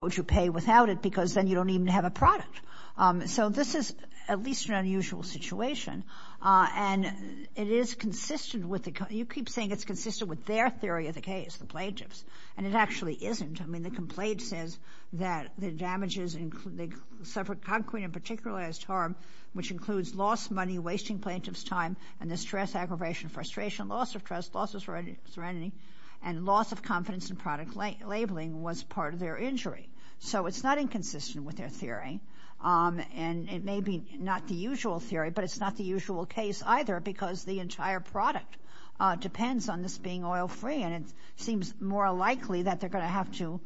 would you pay without it because then you don't even have a product. So this is at least an unusual situation, and it is consistent with the, you keep saying it's consistent with their theory of the case, the plaintiffs, and it actually isn't. I mean, the complaint says that the damages, they suffer concrete and particularized harm, which includes lost money, wasting plaintiff's time, and the stress, aggravation, frustration, loss of trust, loss of serenity, and loss of confidence in product labeling was part of their injury. So it's not inconsistent with their theory, and it may be not the usual theory, but it's not the usual case either because the entire product depends on this being oil-free, and it seems more likely that they're going to have to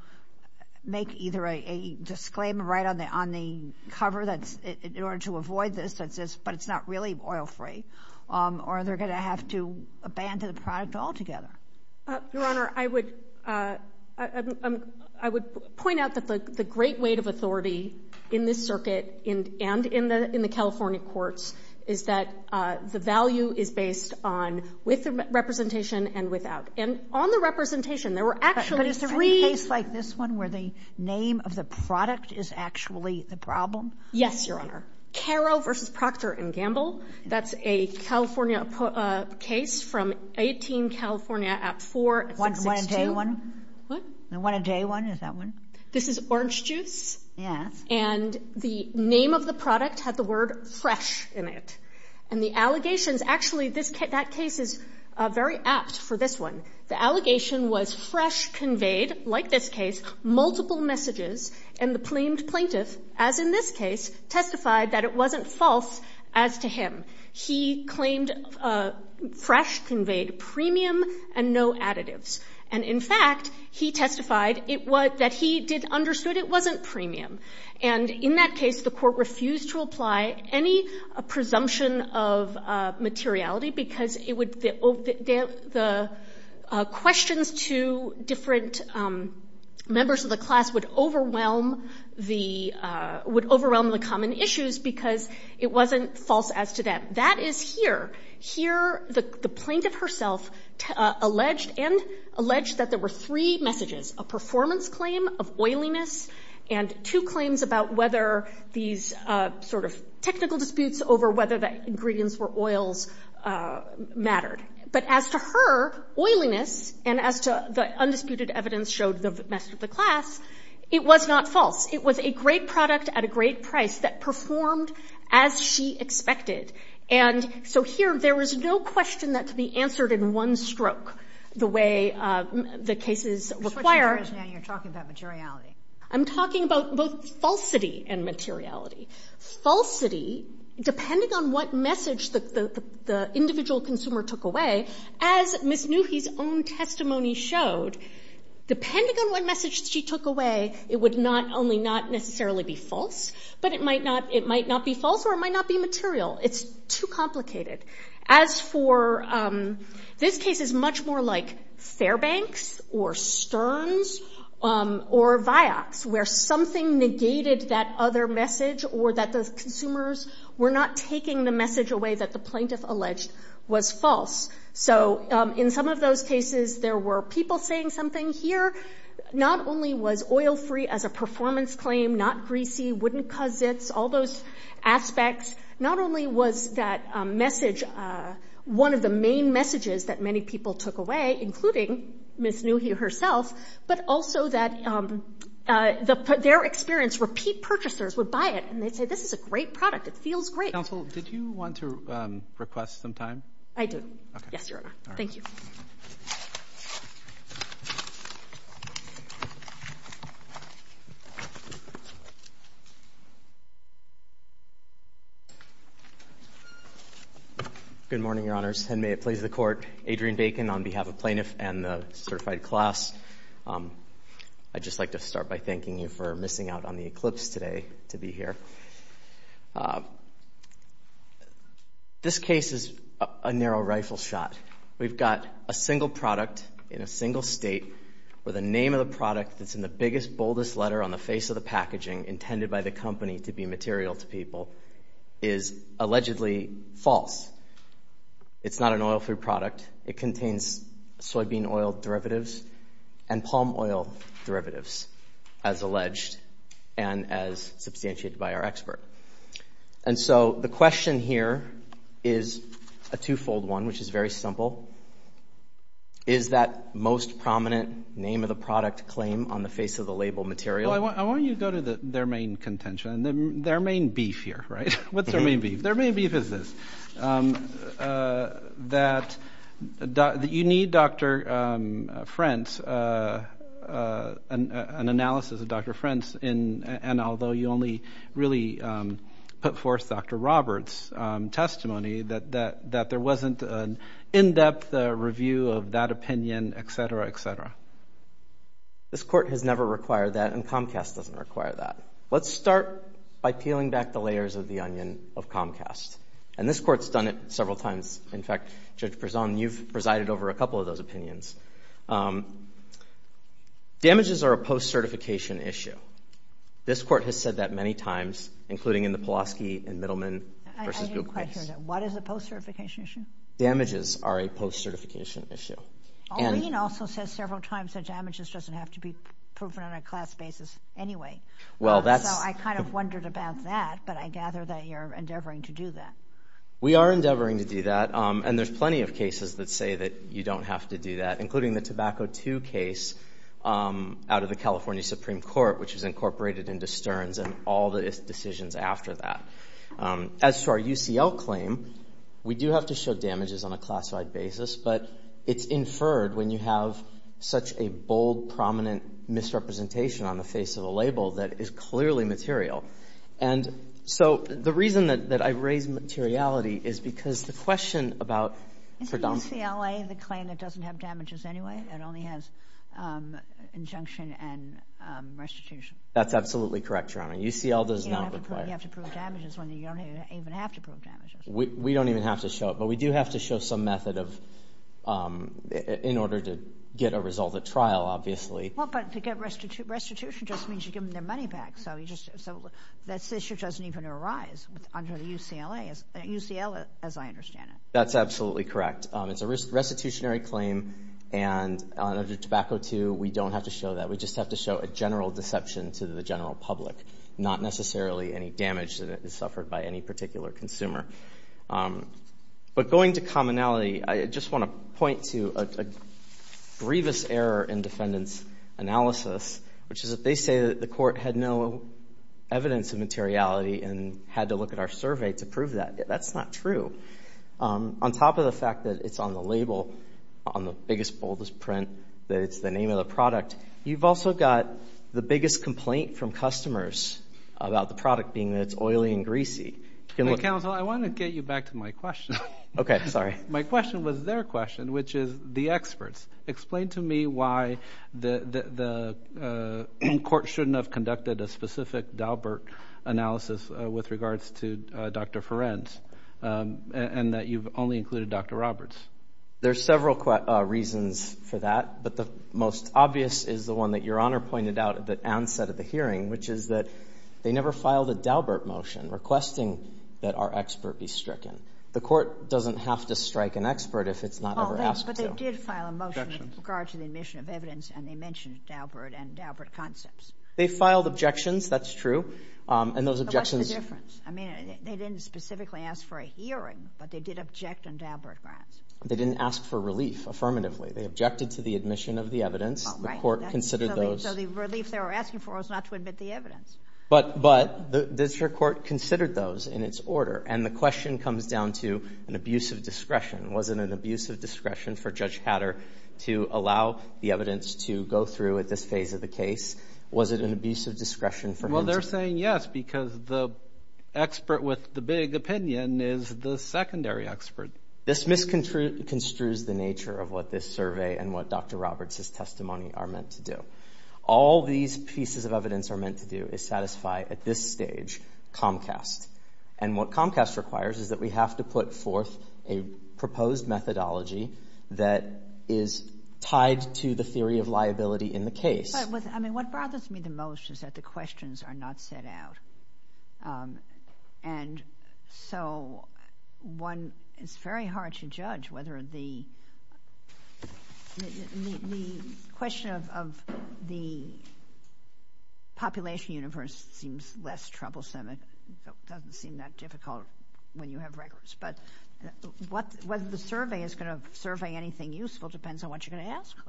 make either a disclaimer right on the, on the cover that's, in order to avoid this, that says, but it's not really oil-free, or they're going to have to abandon the product altogether. Your Honor, I would, I would point out that the great weight of authority in this circuit and in the California courts is that the value is based on with representation and without. And on the representation, there were actually three— But is there any case like this one where the name of the product is actually the problem? Yes, Your Honor. Caro v. Proctor and Gamble. That's a California case from 18 California at 4662— Want to tell you one? What? Want to tell you one? Is that one? This is Orange Juice. Yes. And the name of the product had the word fresh in it. And the allegations—actually, this case, that case is very apt for this one. The allegation was fresh conveyed, like this case, multiple messages, and the claimed plaintiff, as in this case, testified that it wasn't false as to him. He claimed fresh conveyed premium and no additives. And in fact, he testified it was—that he did—understood it wasn't premium. And in that case, the court refused to apply any presumption of materiality because it members of the class would overwhelm the common issues because it wasn't false as to them. That is here. Here, the plaintiff herself alleged and—alleged that there were three messages, a performance claim of oiliness and two claims about whether these sort of technical disputes over whether the ingredients were oils mattered. But as to her oiliness and as to the undisputed evidence showed the message of the class, it was not false. It was a great product at a great price that performed as she expected. And so here, there was no question that could be answered in one stroke the way the cases require. You're switching gears now. You're talking about materiality. I'm talking about both falsity and materiality. Falsity, depending on what message the individual consumer took away, as Ms. Newhey's own testimony showed, depending on what message she took away, it would not—only not necessarily be false, but it might not—it might not be false or it might not be material. It's too complicated. As for—this case is much more like Fairbanks or Sterns or Vioxx where something negated that other message or that the consumers were not taking the message away that the plaintiff alleged was false. So in some of those cases, there were people saying something here. Not only was oil free as a performance claim, not greasy, wouldn't cause zits, all those aspects, not only was that message one of the main messages that many people took away, including Ms. Newhey herself, but also that their experience, repeat purchasers would buy it and they'd say, this is a great product. It feels great. Counsel, did you want to request some time? I do. Okay. Yes, Your Honor. All right. Thank you. Good morning, Your Honors. And may it please the Court, Adrienne Bacon on behalf of Plaintiffs' Court. And the certified class, I'd just like to start by thanking you for missing out on the eclipse today to be here. This case is a narrow rifle shot. We've got a single product in a single state where the name of the product that's in the biggest, boldest letter on the face of the packaging intended by the company to be material to people is allegedly false. It's not an oil free product. It contains soybean oil derivatives and palm oil derivatives as alleged and as substantiated by our expert. And so the question here is a twofold one, which is very simple. Is that most prominent name of the product claim on the face of the label material? I want you to go to their main contention, their main beef here, right? What's their main beef? Their main beef is this, that you need Dr. Frentz, an analysis of Dr. Frentz, and although you only really put forth Dr. Roberts' testimony, that there wasn't an in-depth review of that opinion, et cetera, et cetera. This Court has never required that and Comcast doesn't require that. Let's start by peeling back the layers of the onion of Comcast, and this Court's done it several times. In fact, Judge Prezant, you've presided over a couple of those opinions. Damages are a post-certification issue. This Court has said that many times, including in the Pulaski and Middleman v. Buick case. I didn't quite hear that. What is a post-certification issue? Damages are a post-certification issue. Alleen also says several times that damages doesn't have to be proven on a class basis anyway. I kind of wondered about that, but I gather that you're endeavoring to do that. We are endeavoring to do that, and there's plenty of cases that say that you don't have to do that, including the Tobacco II case out of the California Supreme Court, which is incorporated into Stern's and all the decisions after that. As for our UCL claim, we do have to show damages on a classified basis, but it's inferred when you have such a bold, prominent misrepresentation on the face of a label that is clearly material. And so, the reason that I raise materiality is because the question about predominance Is the UCLA the claim that doesn't have damages anyway, that only has injunction and restitution? That's absolutely correct, Your Honor. UCL does not require. You have to prove damages when you don't even have to prove damages. We don't even have to show it, but we do have to show some method in order to get a result at trial, obviously. Well, but to get restitution just means you give them their money back, so that issue doesn't even arise under the UCLA, as I understand it. That's absolutely correct. It's a restitutionary claim, and under Tobacco II, we don't have to show that. We just have to show a general deception to the general public, not necessarily any damage that is suffered by any particular consumer. But going to commonality, I just want to point to a grievous error in defendants' analysis, which is that they say that the court had no evidence of materiality and had to look at our survey to prove that. That's not true. On top of the fact that it's on the label, on the biggest, boldest print, that it's the name of the product, you've also got the biggest complaint from customers about the product being that it's oily and greasy. Counsel, I want to get you back to my question. Okay. Sorry. My question was their question, which is the experts. Explain to me why the court shouldn't have conducted a specific Daubert analysis with regards to Dr. Ferencz and that you've only included Dr. Roberts. There's several reasons for that, but the most obvious is the one that Your Honor pointed out at the onset of the hearing, which is that they never filed a Daubert motion requesting that our expert be stricken. The court doesn't have to strike an expert if it's not ever asked to. But they did file a motion with regard to the admission of evidence, and they mentioned Daubert and Daubert concepts. They filed objections. That's true. And those objections... But what's the difference? I mean, they didn't specifically ask for a hearing, but they did object on Daubert grounds. They didn't ask for relief, affirmatively. They objected to the admission of the evidence. The court considered those... So the relief they were asking for was not to admit the evidence. But the district court considered those in its order, and the question comes down to an abuse of discretion. Was it an abuse of discretion for Judge Hatter to allow the evidence to go through at this phase of the case? Was it an abuse of discretion for him to... Well, they're saying yes, because the expert with the big opinion is the secondary expert. This misconstrues the nature of what this survey and what Dr. Roberts' testimony are All these pieces of evidence are meant to do is satisfy, at this stage, Comcast. And what Comcast requires is that we have to put forth a proposed methodology that is tied to the theory of liability in the case. But what bothers me the most is that the questions are not set out. And so it's very hard to judge whether the question of the population universe seems less troublesome. It doesn't seem that difficult when you have records, but whether the survey is going to survey anything useful depends on what you're going to ask for.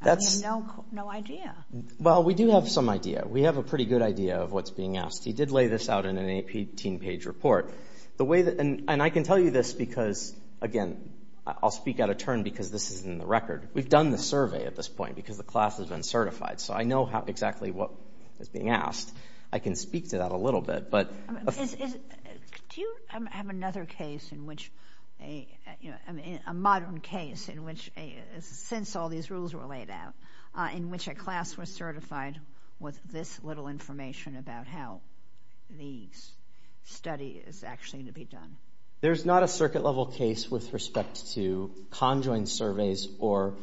I have no idea. Well, we do have some idea. We have a pretty good idea of what's being asked. He did lay this out in an 18-page report. And I can tell you this because, again, I'll speak at a turn because this is in the record. We've done the survey at this point because the class has been certified. So I know exactly what is being asked. I can speak to that a little bit. Do you have another case, a modern case, in which, since all these rules were laid out, in which a class was certified with this little information about how the study is actually to be done? There's not a circuit-level case with respect to conjoined surveys or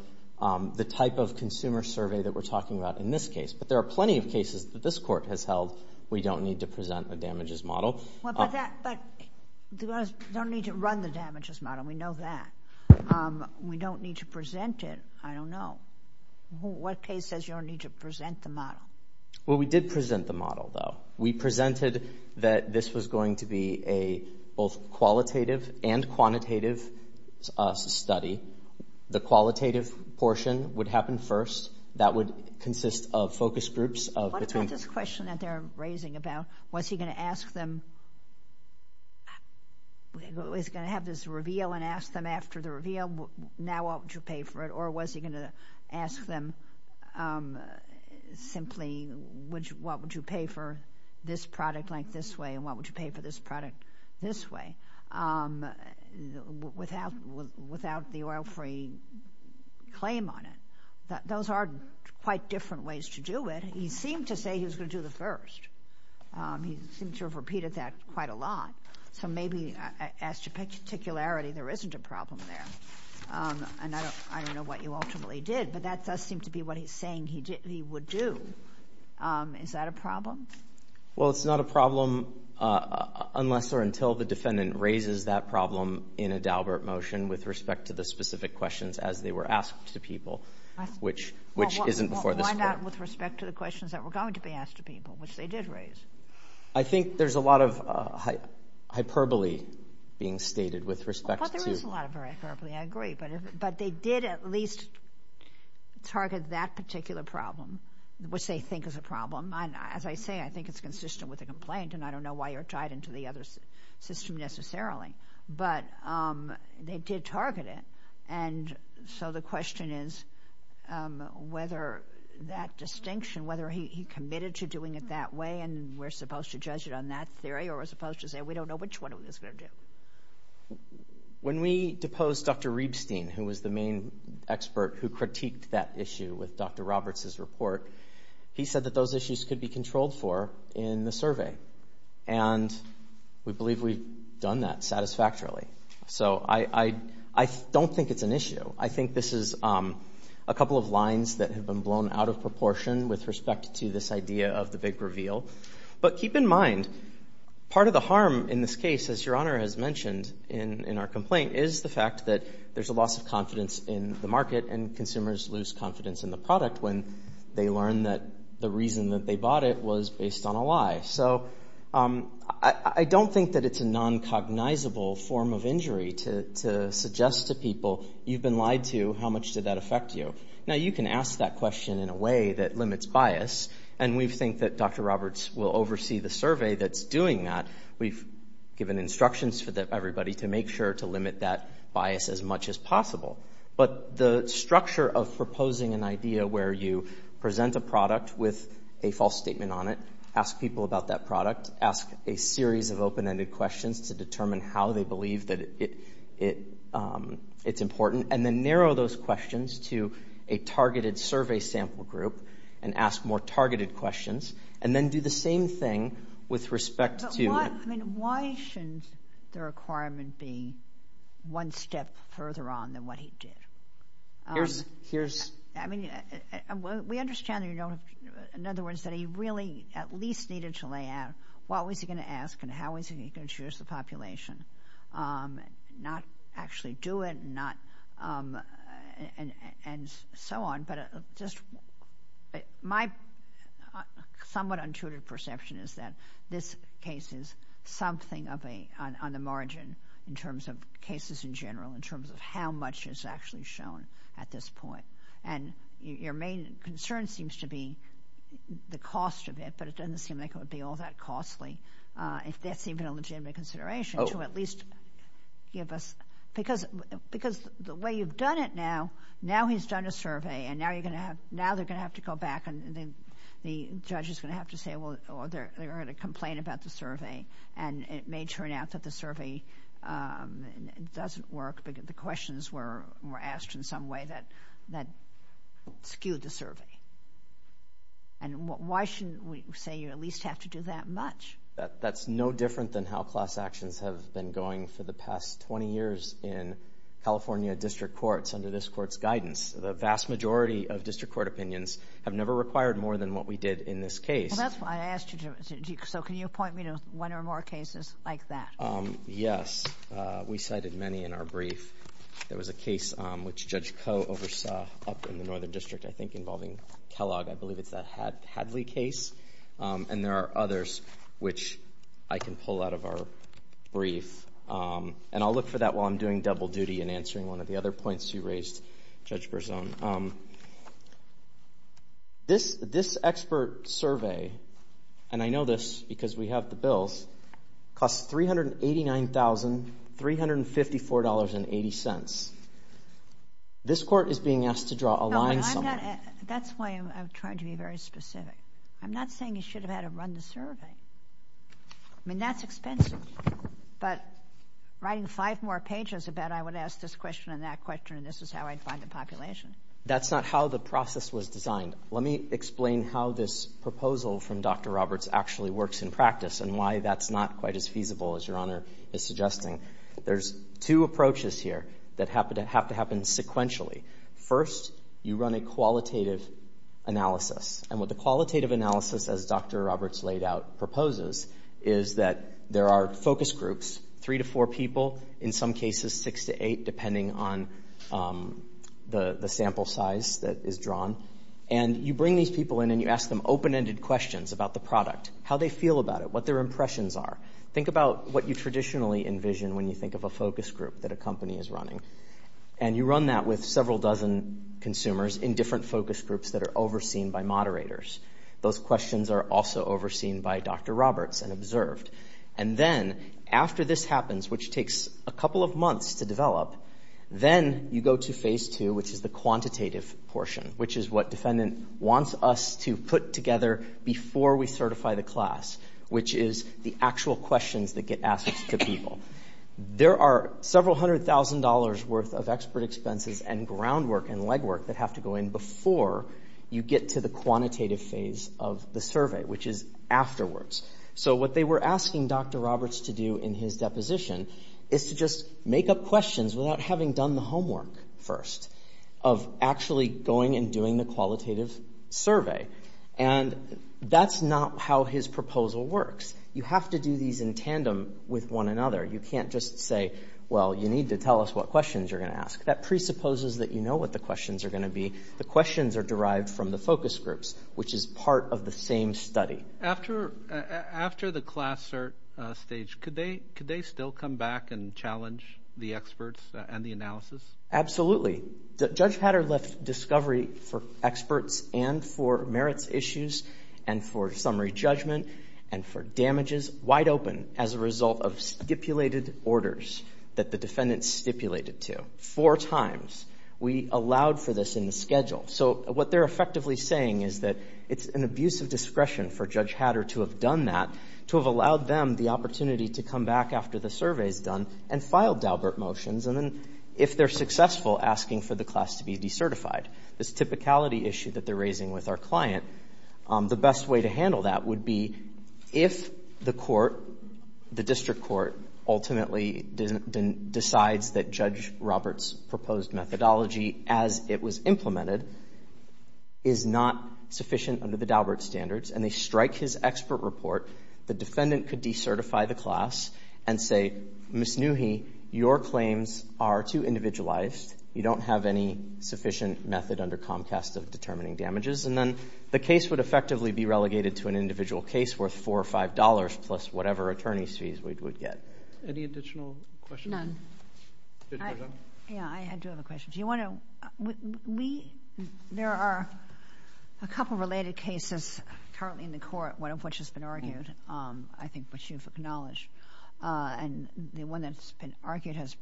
the type of consumer survey that we're talking about in this case. But there are plenty of cases that this Court has held we don't need to present a damages model. But we don't need to run the damages model. We know that. We don't need to present it. I don't know. What case says you don't need to present the model? Well, we did present the model, though. We presented that this was going to be a both qualitative and quantitative study. The qualitative portion would happen first. That would consist of focus groups of between— What about this question that they're raising about, was he going to ask them—was he going to have this reveal and ask them after the reveal, now what would you pay for it? Or was he going to ask them simply, what would you pay for this product like this way and what would you pay for this product this way without the oil-free claim on it? Those are quite different ways to do it. He seemed to say he was going to do the first. He seems to have repeated that quite a lot. So maybe as to particularity, there isn't a problem there. And I don't know what you ultimately did, but that does seem to be what he's saying he would do. Is that a problem? Well, it's not a problem unless or until the defendant raises that problem in a Daubert motion with respect to the specific questions as they were asked to people, which isn't before this Court. Why not with respect to the questions that were going to be asked to people, which they did raise? I think there's a lot of hyperbole being stated with respect to— There is a lot of hyperbole. I agree. But they did at least target that particular problem, which they think is a problem. As I say, I think it's consistent with the complaint, and I don't know why you're tied into the other system necessarily. But they did target it, and so the question is whether that distinction, whether he committed to doing it that way and we're supposed to judge it on that theory or we're supposed to say we don't know which one it was going to do. When we deposed Dr. Rebstein, who was the main expert who critiqued that issue with Dr. Roberts' report, he said that those issues could be controlled for in the survey. And we believe we've done that satisfactorily. So I don't think it's an issue. I think this is a couple of lines that have been blown out of proportion with respect to this idea of the big reveal. But keep in mind, part of the harm in this case, as Your Honor has mentioned in our complaint, is the fact that there's a loss of confidence in the market and consumers lose confidence in the product when they learn that the reason that they bought it was based on a lie. So I don't think that it's a noncognizable form of injury to suggest to people, you've been lied to, how much did that affect you? Now, you can ask that question in a way that limits bias, and we think that Dr. Roberts will oversee the survey that's doing that. We've given instructions for everybody to make sure to limit that bias as much as possible. But the structure of proposing an idea where you present a product with a false statement on it, ask people about that product, ask a series of open-ended questions to determine how they believe that it's important, and then narrow those questions to a targeted survey sample group and ask more targeted questions, and then do the same thing with respect to... But why, I mean, why shouldn't the requirement be one step further on than what he did? Here's, here's... I mean, we understand, you know, in other words, that he really at least needed to lay out what was he going to ask and how is he going to choose the population, and not actually do it, and not, and so on. But just my somewhat untutored perception is that this case is something of a, on the margin, in terms of cases in general, in terms of how much is actually shown at this point. And your main concern seems to be the cost of it, but it doesn't seem like it would be all that costly, if that's even a legitimate consideration, to at least give us... Because, because the way you've done it now, now he's done a survey and now you're going to have, now they're going to have to go back and the judge is going to have to say, well, they're going to complain about the survey, and it may turn out that the survey doesn't work because the questions were asked in some way that skewed the survey. And why shouldn't we say you at least have to do that much? That's no different than how class actions have been going for the past 20 years in California district courts under this court's guidance. The vast majority of district court opinions have never required more than what we did in this case. Well, that's why I asked you to, so can you point me to one or more cases like that? Yes, we cited many in our brief. There was a case which Judge Koh oversaw up in the Northern District, I think, involving Kellogg. I believe it's that Hadley case. And there are others which I can pull out of our brief. And I'll look for that while I'm doing double duty and answering one of the other points you raised, Judge Berzon. This expert survey, and I know this because we have the bills, costs $389,354.80. This court is being asked to draw a line somewhere. That's why I'm trying to be very specific. I'm not saying you should have had to run the survey. I mean, that's expensive. But writing five more pages, I bet I would ask this question and that question, and this is how I'd find the population. That's not how the process was designed. Let me explain how this proposal from Dr. Roberts actually works in practice and why that's not quite as feasible as Your Honor is suggesting. There's two approaches here that have to happen sequentially. First, you run a qualitative analysis. And what the qualitative analysis, as Dr. Roberts laid out, proposes is that there are focus groups, three to four people, in some cases six to eight, depending on the sample size that is drawn. And you bring these people in and you ask them open-ended questions about the product, how they feel about it, what their impressions are. Think about what you traditionally envision when you think of a focus group that a company is running. And you run that with several dozen consumers in different focus groups that are overseen by moderators. Those questions are also overseen by Dr. Roberts and observed. And then, after this happens, which takes a couple of months to develop, then you go to phase two, which is the quantitative portion, which is what defendant wants us to put together before we certify the class, which is the actual questions that get asked to people. There are several hundred thousand dollars worth of expert expenses and groundwork and legwork that have to go in before you get to the quantitative phase of the survey, which is afterwards. So what they were asking Dr. Roberts to do in his deposition is to just make up questions without having done the homework first of actually going and doing the qualitative survey. And that's not how his proposal works. You have to do these in tandem with one another. You can't just say, well, you need to tell us what questions you're going to ask. That presupposes that you know what the questions are going to be. The questions are derived from the focus groups, which is part of the same study. After the class cert stage, could they still come back and challenge the experts and the analysis? Absolutely. Judge Hatter left discovery for experts and for merits issues and for summary judgment and for damages wide open as a result of stipulated orders that the defendant stipulated to. Four times we allowed for this in the schedule. So what they're effectively saying is that it's an abuse of discretion for Judge Hatter to have done that, to have allowed them the opportunity to come back after the survey is done and file Daubert motions. And then if they're successful, asking for the class to be decertified. This typicality issue that they're raising with our client, the best way to handle that would be if the court, the district court, ultimately decides that Judge Robert's proposed methodology, as it was implemented, is not sufficient under the Daubert standards and they strike his expert report, the defendant could decertify the class and say, Ms. Newhey, your claims are too individualized. You don't have any sufficient method under Comcast of determining damages. And then the case would effectively be relegated to an individual case worth four or five dollars plus whatever attorney's fees we would get. Any additional questions? None. Yeah, I do have a question. There are a couple of related cases currently in the court, one of which has been argued, I think, which you've acknowledged. And the one that's been argued has,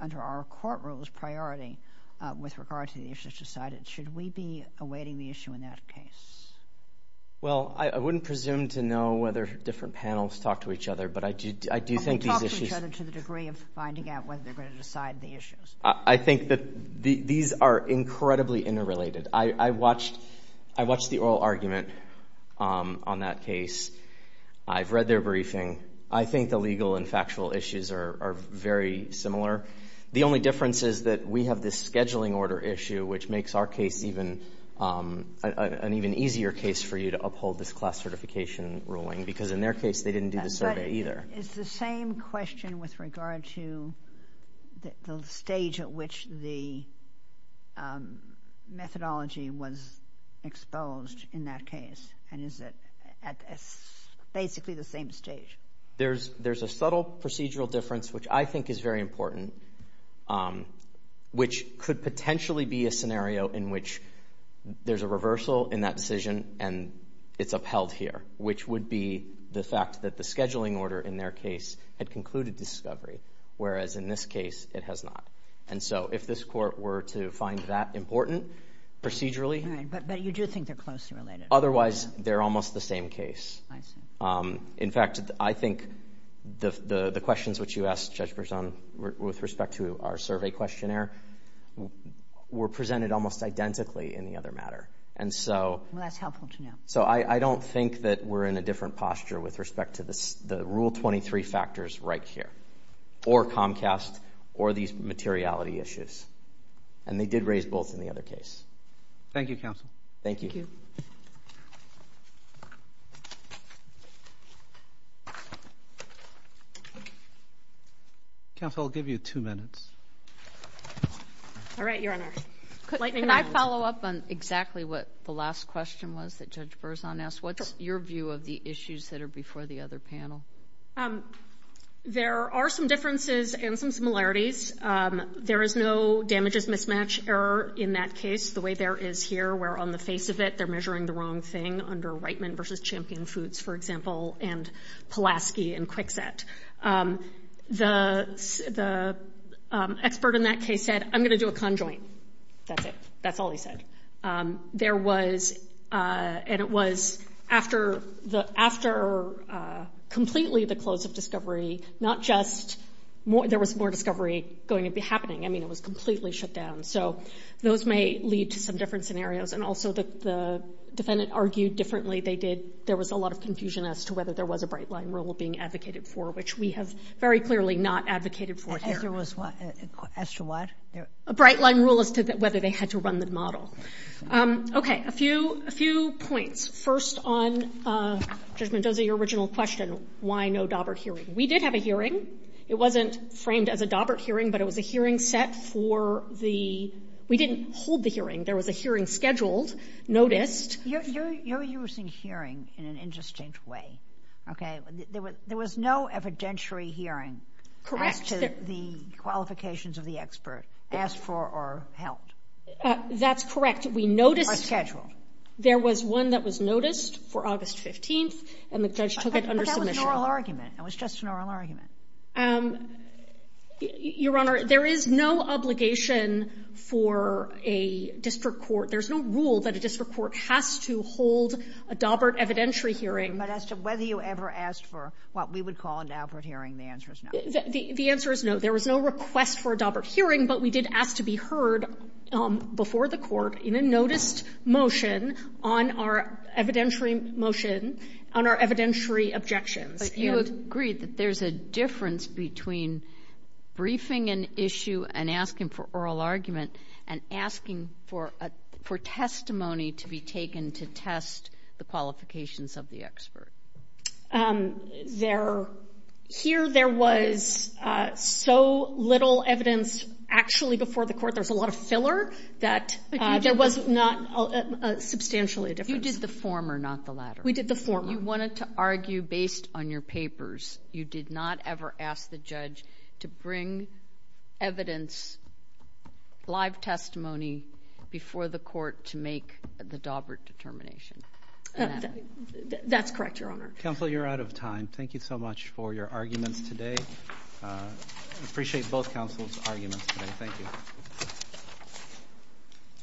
under our court rules, priority with regard to the issues decided. Should we be awaiting the issue in that case? Well, I wouldn't presume to know whether different panels talk to each other, but I do think these issues... And they talk to each other to the degree of finding out whether they're going to decide the issues. I think that these are incredibly interrelated. I watched the oral argument on that case. I've read their briefing. I think the legal and factual issues are very similar. The only difference is that we have this scheduling order issue, which makes our case an even easier case for you to uphold this class certification ruling, because in their case, they didn't do the survey either. Is the same question with regard to the stage at which the methodology was exposed in that case? And is it at basically the same stage? There's a subtle procedural difference, which I think is very important, which could potentially be a scenario in which there's a reversal in that decision and it's upheld here, which would be the fact that the scheduling order in their case had concluded discovery, whereas in this case, it has not. And so if this court were to find that important procedurally... Right, but you do think they're closely related. Otherwise, they're almost the same case. In fact, I think the questions which you asked, Judge Berzon, with respect to our survey questionnaire were presented almost identically in the other matter. And so... Well, that's helpful to know. So I don't think that we're in a different posture with respect to the Rule 23 factors right here, or Comcast, or these materiality issues. And they did raise both in the other case. Thank you, counsel. Thank you. Counsel, I'll give you two minutes. All right, Your Honor. Can I follow up on exactly what the last question was that Judge Berzon asked? What's your view of the issues that are before the other panel? There are some differences and some similarities. There is no damages mismatch error in that case, the way there is here, where on the face of it, they're measuring the wrong thing under Reitman versus Champion Foods, for example, and Pulaski and Kwikset. The expert in that case said, I'm going to do a conjoint. That's it. That's all he said. There was, and it was, after completely the close of discovery, not just there was more discovery going to be happening. I mean, it was completely shut down. So those may lead to some different scenarios. And also the defendant argued differently. There was a lot of confusion as to whether there was a bright line rule being advocated for, which we have very clearly not advocated for here. As to what? A bright line rule as to whether they had to run the model. Okay, a few points. First on Judge Mendoza, your original question, why no Daubert hearing? We did have a hearing. It wasn't framed as a Daubert hearing, but it was a hearing set for the, we didn't hold the hearing. There was a hearing scheduled, noticed. You're using hearing in an interesting way. Okay, there was no evidentiary hearing as to the qualifications of the expert, asked for or held. That's correct. We noticed. Or scheduled. There was one that was noticed for August 15th, and the judge took it under submission. But that was an oral argument. It was just an oral argument. Your Honor, there is no obligation for a district court, there's no rule that a district court has to hold a Daubert evidentiary hearing. But as to whether you ever asked for what we would call a Daubert hearing, the answer is no. The answer is no. There was no request for a Daubert hearing, but we did ask to be heard before the court in a noticed motion on our evidentiary motion, on our evidentiary objections. But you agreed that there's a difference between briefing an issue and asking for oral argument and asking for testimony to be taken to test the qualifications of the expert. Here, there was so little evidence. Actually, before the court, there's a lot of filler that there was not substantially a difference. You did the former, not the latter. We did the former. You wanted to argue based on your papers. You did not ever ask the judge to bring evidence, live testimony before the court to make the Daubert determination. That's correct, Your Honor. Counsel, you're out of time. Thank you so much for your arguments today. I appreciate both counsel's arguments today. Thank you.